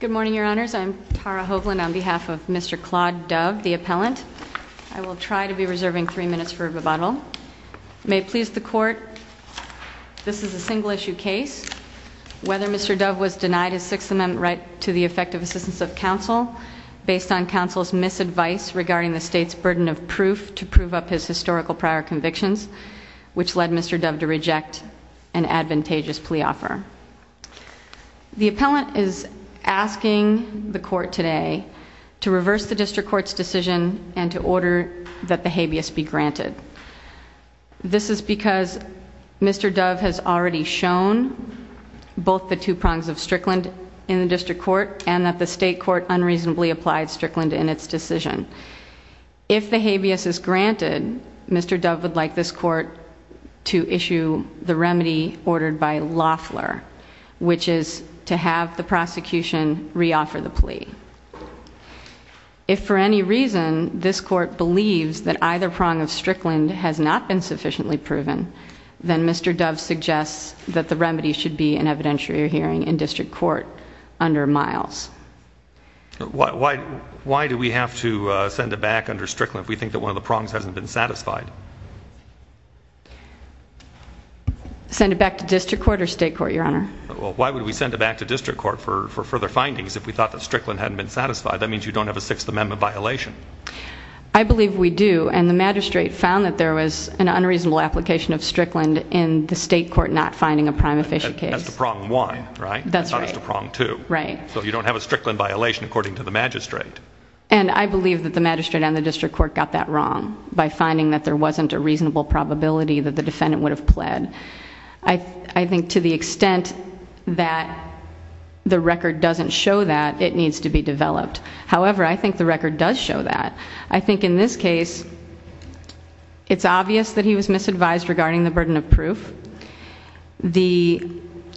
Good morning, Your Honors. I'm Tara Hovland on behalf of Mr. Claude Dove, the appellant. I will try to be reserving three minutes for rebuttal. May it please the Court, this is a single-issue case. Whether Mr. Dove was denied his Sixth Amendment right to the effective assistance of counsel, based on counsel's misadvice regarding the state's burden of proof to prove up his historical prior convictions, which led Mr. Dove to reject an advantageous plea offer. The appellant is asking the Court today to reverse the district court's decision and to order that the habeas be granted. This is because Mr. Dove has already shown both the two prongs of Strickland in the district court and that the state court unreasonably applied Strickland in its decision. If the remedy ordered by Loffler, which is to have the prosecution re-offer the plea. If for any reason this Court believes that either prong of Strickland has not been sufficiently proven, then Mr. Dove suggests that the remedy should be an evidentiary hearing in district court under Miles. Why do we have to send it back under Strickland if we think that one of the prongs hasn't been satisfied? Send it back to district court or state court, your honor? Why would we send it back to district court for further findings if we thought that Strickland hadn't been satisfied? That means you don't have a Sixth Amendment violation. I believe we do and the magistrate found that there was an unreasonable application of Strickland in the state court not finding a prima facie case. As to prong one, right? That's right. As to prong two. Right. So you don't have a Strickland violation according to the magistrate. And I believe that the magistrate and the district court got that wrong by finding that there wasn't a reasonable probability that the defendant would have pled. I think to the extent that the record doesn't show that it needs to be developed. However, I think the record does show that. I think in this case it's obvious that he was misadvised regarding the burden of proof. The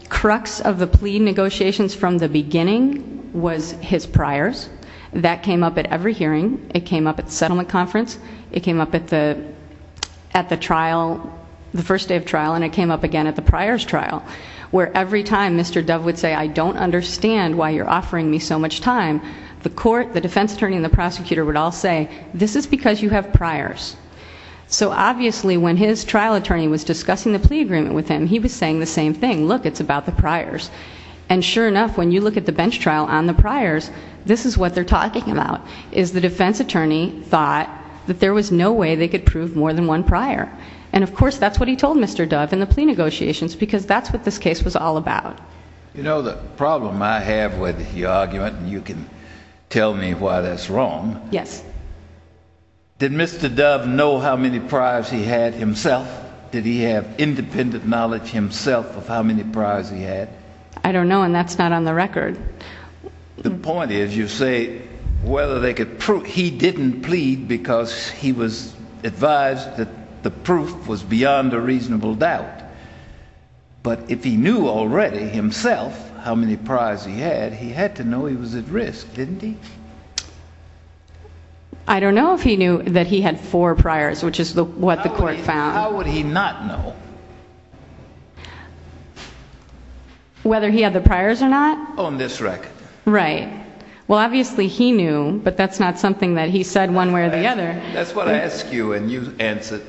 crux of the plea negotiations from the beginning was his priors. That came up at every hearing. It came up at the settlement conference. It came up at the trial, the first day of trial and it came up again at the priors trial where every time Mr. Dove would say I don't understand why you're offering me so much time the court, the defense attorney and the prosecutor would all say this is because you have priors. So obviously when his trial attorney was discussing the plea agreement with him he was saying the same thing. Look it's about the priors. And sure enough when you look at the bench trial on the priors this is what they're talking about. Is the defense attorney thought that there was no way they could prove more than one prior. And of course that's what he told Mr. Dove in the plea negotiations because that's what this case was all about. You know the problem I have with the argument and you can tell me why that's wrong. Yes. Did Mr. Dove know how many priors he had himself? Did he have independent knowledge himself of how many priors he had? I don't know and that's not on the record. The point is you say whether they could prove, he didn't plead because he was advised that the proof was beyond a reasonable doubt. But if he knew already himself how many priors he had, he had to know he was at risk, didn't he? I don't know if he knew that he had four priors which is what the court found. How would he not know? Whether he had the priors or not? On this record. Right. Well obviously he knew but that's not something that he said one way or the other. That's what I ask you and you answer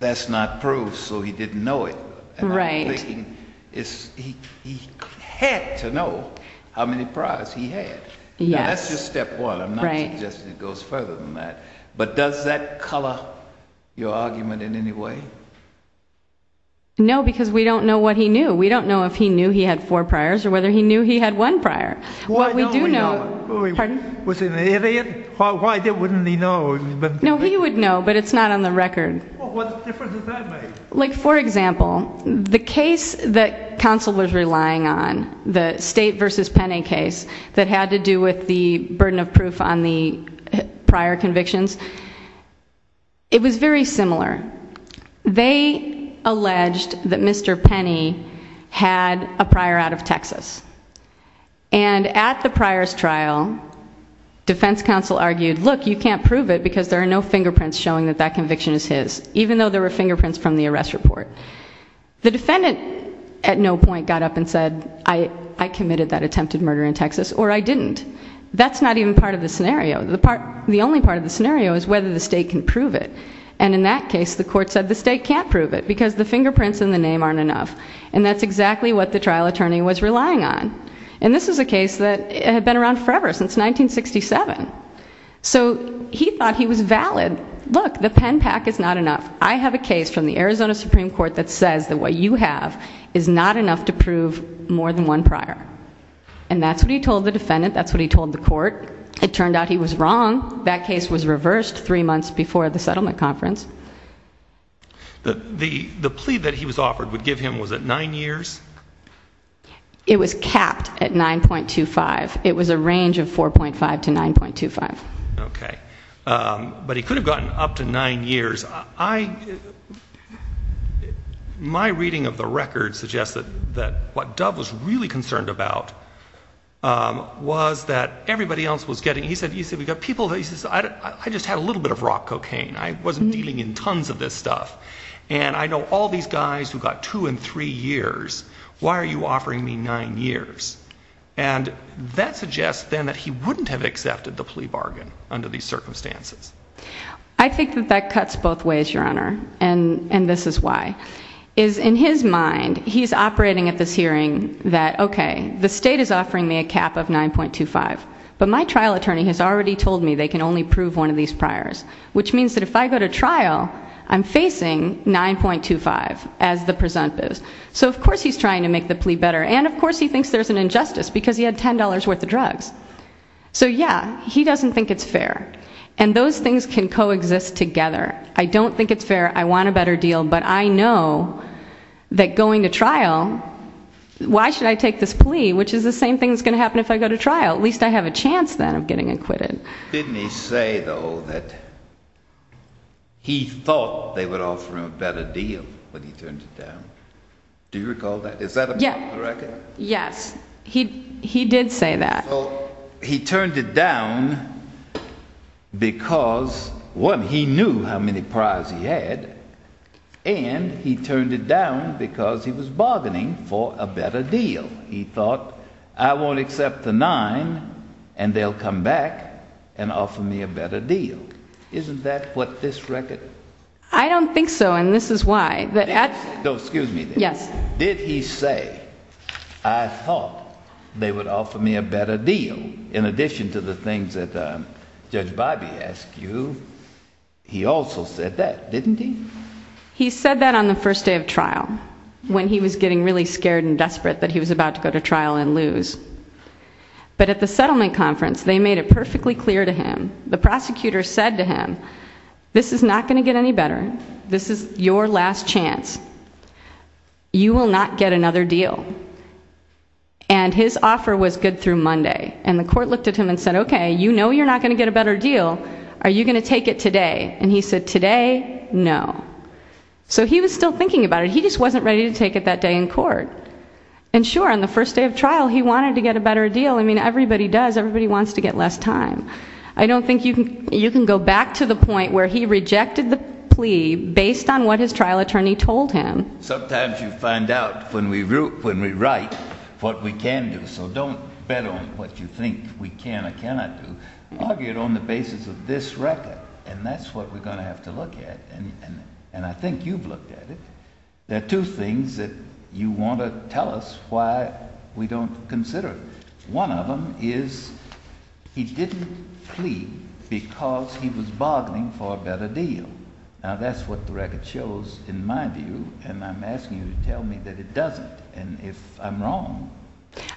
that's not proof so he didn't know it. Right. He had to know how many priors he had. Yes. That's just step one. I'm not suggesting it goes further than that. But does that color your argument in any way? No because we don't know what he knew. We don't know if he knew he had four priors or whether he knew he had one prior. What we do know Pardon? Was he an idiot? Why wouldn't he know? No he would know but it's not on the record. What difference does that make? Like for example, the case that counsel was relying on, the State versus Penney case that had to do with the burden of proof on the prior convictions, it was very similar. They alleged that Mr. Penney had a prior out of Texas. And at the priors trial defense counsel argued look you can't prove it because there are no fingerprints showing that conviction is his. Even though there were fingerprints from the arrest report. The defendant at no point got up and said I committed that attempted murder in Texas or I didn't. That's not even part of the scenario. The only part of the scenario is whether the State can prove it. And in that case the court said the State can't prove it because the fingerprints in the name aren't enough. And that's exactly what the trial attorney was relying on. And this is a case that had been around forever since 1967. So he thought he was valid. Look the pen pack is not enough. I have a case from the Arizona Supreme Court that says that what you have is not enough to prove more than one prior. And that's what he told the defendant. That's what he told the court. It turned out he was wrong. That case was reversed three months before the settlement conference. The plea that he was offered would give him was it nine years? It was capped at 9.25. It was a range of 4.5 to 9.25. Okay. But he could have gotten up to nine years. My reading of the record suggests that what Dove was really concerned about was that everybody else was getting, he said, I just had a little bit of rock cocaine. I wasn't dealing in tons of this stuff. And I know all these guys who got two and three years. Why are you offering me nine years? And that suggests then that he wouldn't have accepted the plea bargain under these circumstances. I think that that cuts both ways, Your Honor. And this is why. In his mind, he's operating at this hearing that, okay, the state is offering me a cap of 9.25. But my trial attorney has already told me they can only prove one of these priors. Which means that if I go to trial, I'm facing 9.25 as the presumptive. So of course he's trying to make the plea better. And of course he thinks there's an injustice because he had $10 worth of drugs. So yeah, he doesn't think it's fair. And those things can coexist together. I don't think it's fair. I want a better deal. But I know that going to trial, why should I take this plea, which is the same thing that's going to happen if I go to trial? At least I have a chance then of getting acquitted. Didn't he say, though, that he thought they would offer him a better deal when he turned it down? Do you recall that? Is that a part of the record? Yes. He did say that. So he turned it down because, one, he knew how many priors he had. And he turned it down because he was bargaining for a better deal. He thought, I won't accept the 9 and they'll come back and offer me a better deal. Isn't that what this record? I don't think so, and this is why. Excuse me. Did he say, I thought they would offer me a better deal in addition to the things that Judge Bobby asked you? He also said that, didn't he? He said that on the first day of trial, when he was getting really scared and desperate that he was about to go to trial and lose. But at the settlement conference, they made it perfectly clear to him, the prosecutor said to him, this is not going to get any better. This is your last chance. You will not get another deal. And his offer was good through Monday. And the court looked at him and said, OK, you know you're not going to get a better deal. Are you going to take it today? And he said, today, no. So he was still thinking about it. He just wasn't ready to take it that day in court. And sure, on the first day of trial, he wanted to get a better deal. I mean, everybody does. Everybody wants to get less time. I don't think you can go back to the point where he rejected the plea based on what his trial attorney told him. Sometimes you find out when we write what we can do. So don't bet on what you think we can or cannot do. Argue it on the basis of this record. And that's what we're going to have to look at. And I think you've looked at it. There are two things that you want to tell us why we don't consider it. One of them is he didn't plea because he was bargaining for a better deal. Now, that's what the record shows in my view. And I'm asking you to tell me that it doesn't. And if I'm wrong.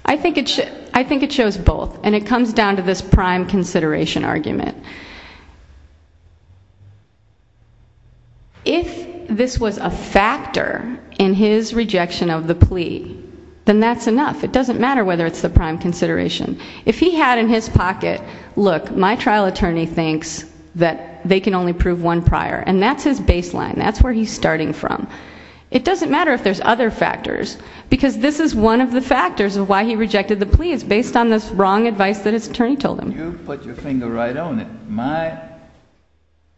I think it shows both. And it comes down to this prime consideration argument. If this was a factor in his rejection of the plea, then that's enough. It doesn't matter whether it's the prime consideration. If he had in his pocket, look, my trial attorney thinks that they can only prove one prior. And that's his baseline. That's where he's starting from. It doesn't matter if there's other factors. Because this is one of the factors of why he rejected the plea. It's based on this wrong advice that his attorney told him. You put your finger right on it. My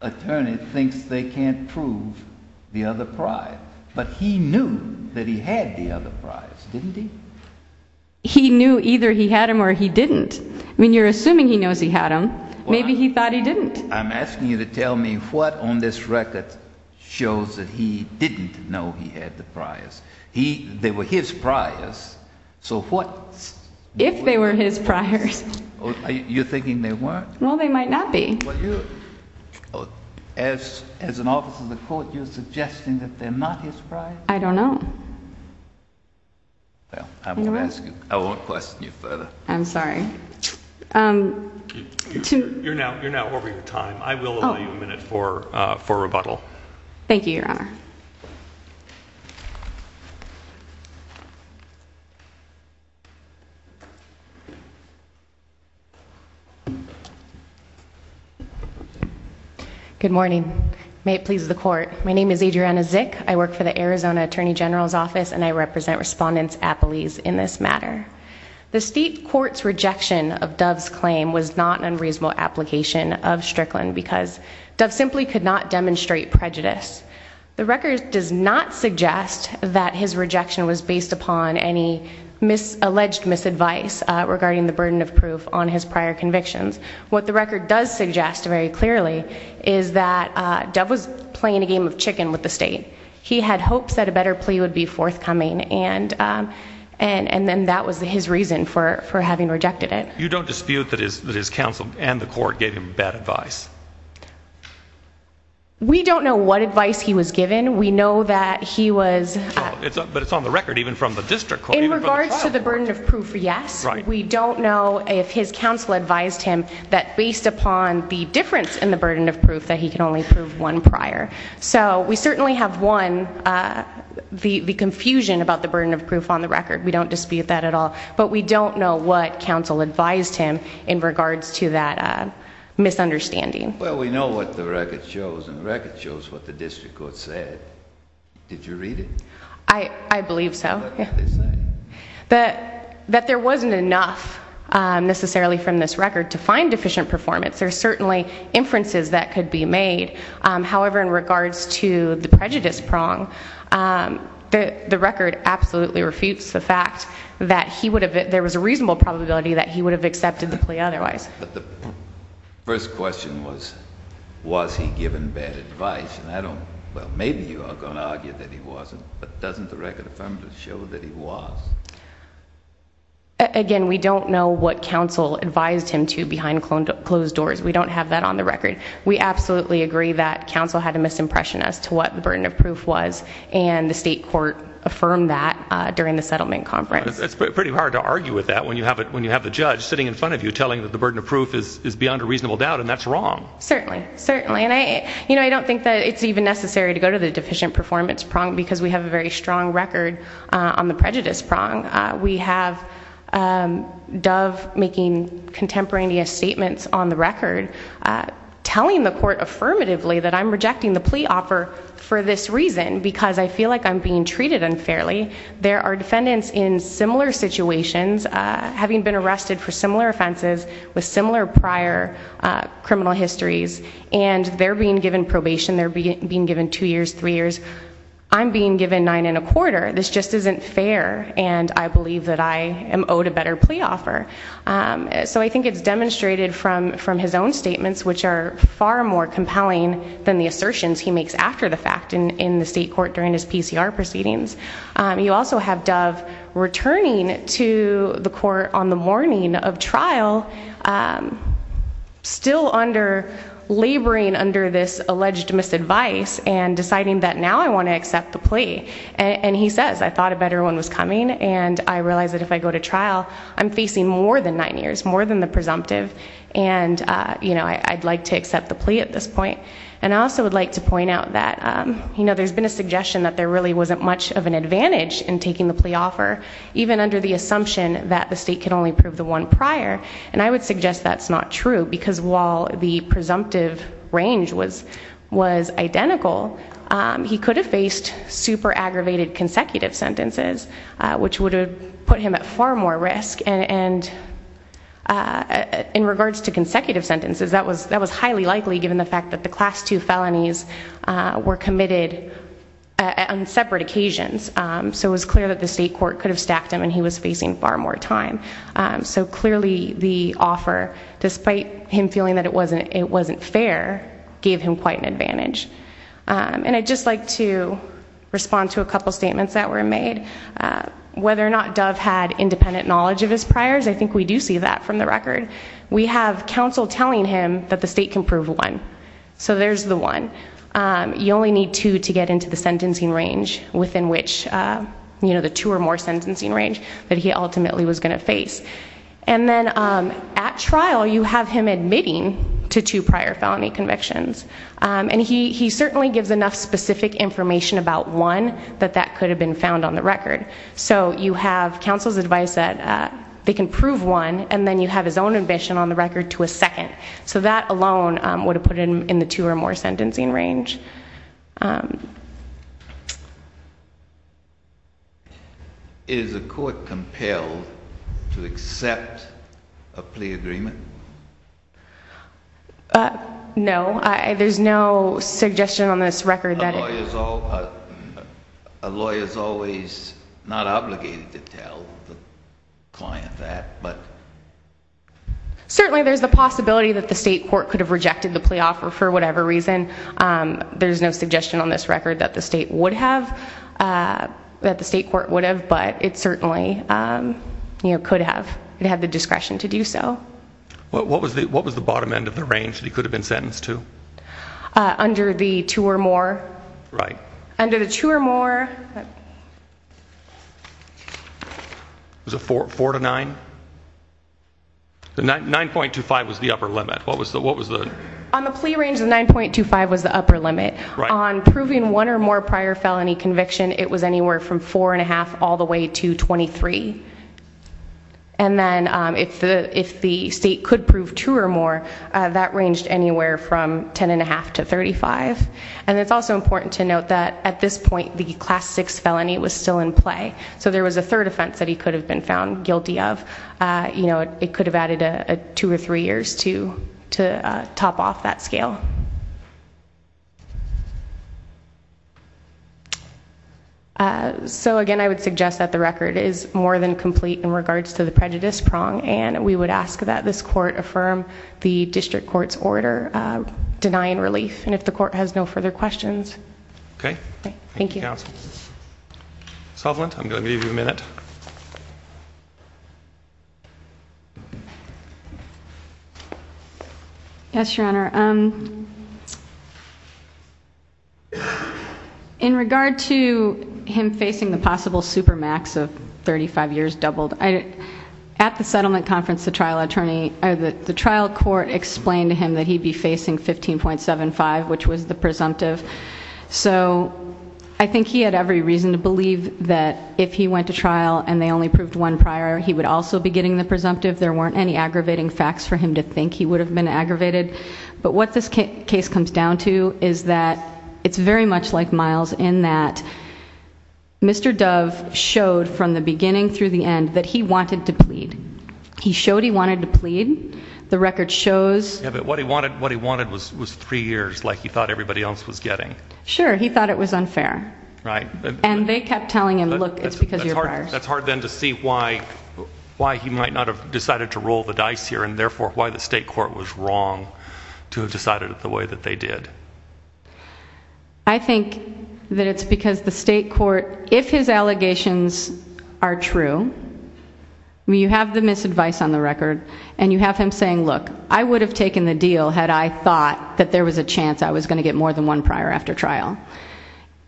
attorney thinks they can't prove the other prior. But he knew that he had the other prior. Didn't he? He knew either he had them or he didn't. I mean, you're assuming he knows he had them. Maybe he thought he didn't. I'm asking you to tell me what on this record shows that he didn't know he had the priors. They were his priors. So what? If they were his priors. You're thinking they weren't? Well, they might not be. As an officer of the court, you're suggesting that they're not his priors? I don't know. I won't question you further. I'm sorry. You're now over your time. I will allow you a minute for rebuttal. Thank you, Your Honor. Good morning. May it please the court. My name is Adriana Zick. I work for the Arizona Attorney General's Office and I represent Respondents Appellees in this matter. The state court's rejection of Dove's claim was not an unreasonable application of Strickland because Dove simply could not demonstrate prejudice. The record does not suggest that his rejection was based upon any alleged misadvice regarding the burden of proof on his prior convictions. What the record does suggest very clearly is that Dove was playing a game of chicken with the state. He had hopes that a better plea would be forthcoming and that was his reason for having rejected it. You don't dispute that his counsel and the court gave him bad advice? We don't know what advice he was given. We know that he was... In regards to the burden of proof, yes. We don't know if his counsel advised him that based upon the difference in the burden of proof that he could only prove one prior. So we certainly have one, the confusion about the burden of proof on the record. We don't dispute that at all. But we don't know what counsel advised him in regards to that misunderstanding. Well, we know what the record shows and the record shows what the district court said. Did you read it? I believe so. That there wasn't enough necessarily from this record to find deficient performance. There are certainly inferences that could be made. However, in regards to the prejudice prong, the record absolutely refutes the fact that there was a reasonable probability that he would have accepted the plea otherwise. The first question was, was he given bad advice? Maybe you are going to argue that he wasn't, but doesn't the record affirmatively show that he was? Again, we don't know what counsel advised him to behind closed doors. We don't have that on the record. We absolutely agree that counsel had a misimpression as to what the burden of proof was and the state court affirmed that during the settlement conference. It's pretty hard to argue with that when you have the judge sitting in front of you telling that the burden of proof is beyond a reasonable doubt and that's wrong. Certainly. I don't think that it's even necessary to go to the deficient performance prong because we have a very strong record on the prejudice prong. We have Dove making contemporaneous statements on the record telling the court affirmatively that I'm rejecting the plea offer for this reason because I feel like I'm being treated unfairly. There are defendants in similar situations having been arrested for similar offenses with similar prior criminal histories and they're being given probation. They're being given two years, three years. I'm being given nine and a quarter. This just isn't fair and I believe that I So I think it's demonstrated from his own statements which are far more compelling than the assertions he makes after the fact in the state court during his PCR proceedings. You also have Dove returning to the court on the morning of trial still laboring under this alleged misadvice and deciding that now I want to accept the plea. And he says, I thought a better one was coming and I realize that if I go to trial I'm facing more than nine years, more than the presumptive and I'd like to accept the plea at this point. And I also would like to point out that there's been a suggestion that there really wasn't much of an advantage in taking the plea offer even under the assumption that the state can only prove the one prior and I would suggest that's not true because while the presumptive range was identical, he could have faced super aggravated consecutive sentences which would have put him at far more risk and in regards to consecutive sentences that was highly likely given the fact that the class two felonies were committed on separate occasions. So it was clear that the state court could have stacked him and he was facing far more time. So clearly the offer, despite him feeling that it wasn't fair, gave him quite an advantage. And I'd just like to respond to a couple statements that were made. Whether or not Dove had independent knowledge of his priors, I think we do see that from the record. We have counsel telling him that the state can prove one. So there's the one. You only need two to get into the sentencing range that he ultimately was going to face. And then at trial you have him admitting to two prior felony convictions. And he certainly gives enough specific information about one that that could have been found on the record. So you have counsel's advice that they can prove one and then you have his own admission on the record to a second. So that alone would have put him in the two or more sentencing range. Is the court compelled to accept a plea agreement? No. There's no suggestion on this record that it A lawyer is always not obligated to tell the client that. But certainly there's the possibility that the state court could have rejected the plea offer for whatever reason. There's no suggestion on this record that the state would have, that the state court would have. But it certainly could have had the discretion to do so. What was the bottom end of the range that he could have been sentenced to? Under the two or more. Right. Under the two or more Was it four to nine? 9.25 was the upper limit. What was the On the plea range the 9.25 was the upper limit. On proving one or more prior felony conviction it was anywhere from four and a half all the way to 23. And then if the state could prove two or more that ranged anywhere from 10.5 to 35. And it's also important to note that at this point the class 6 felony was still in play. So there was a third offense that he could have been found guilty of. It could have added two or three years to top off that scale. So again I would suggest that the record is more than complete in regards to the prejudice prong and we would ask that this court affirm the district court's order denying relief. And if the court has no further questions. Okay. Thank you counsel. Solvent I'm going to give you a minute. Yes your honor. In regard to him the trial court explained to him that he'd be facing 15.75 which was the presumptive. So I think he had every reason to believe that if he went to trial and they only proved one prior he would also be getting the presumptive. There weren't any aggravating facts for him to think he would have been aggravated. But what this case comes down to is that it's very much like Miles in that Mr. Dove showed from the beginning through the end that he wanted to plead. He showed he wanted to plead. The record shows. Yeah but what he wanted was three years like he thought everybody else was getting. Sure he thought it was unfair. Right. And they kept telling him look it's because you're prior. That's hard then to see why he might not have decided to roll the dice here and therefore why the state court was wrong to have decided it the way that they did. I think that it's because the state court if his allegations are true you have the misadvice on the record and you have him saying look I would have taken the deal had I thought that there was a chance I was going to get more than one prior after trial.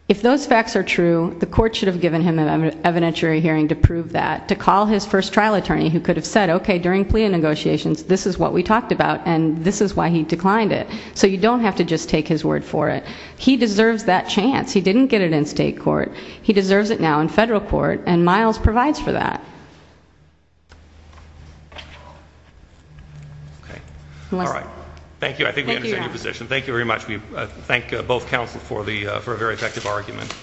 If those facts are true the court should have given him an evidentiary hearing to prove that to call his first trial attorney who could have said okay during plea negotiations this is what we talked about and this is why he declined it. So you don't have to just take his word for it. He deserves that chance. He didn't get it in state court. He deserves it now in federal court and Miles provides for that. Okay. Alright. Thank you. I think we understand your position. Thank you very much. We thank both counsel for a very effective argument.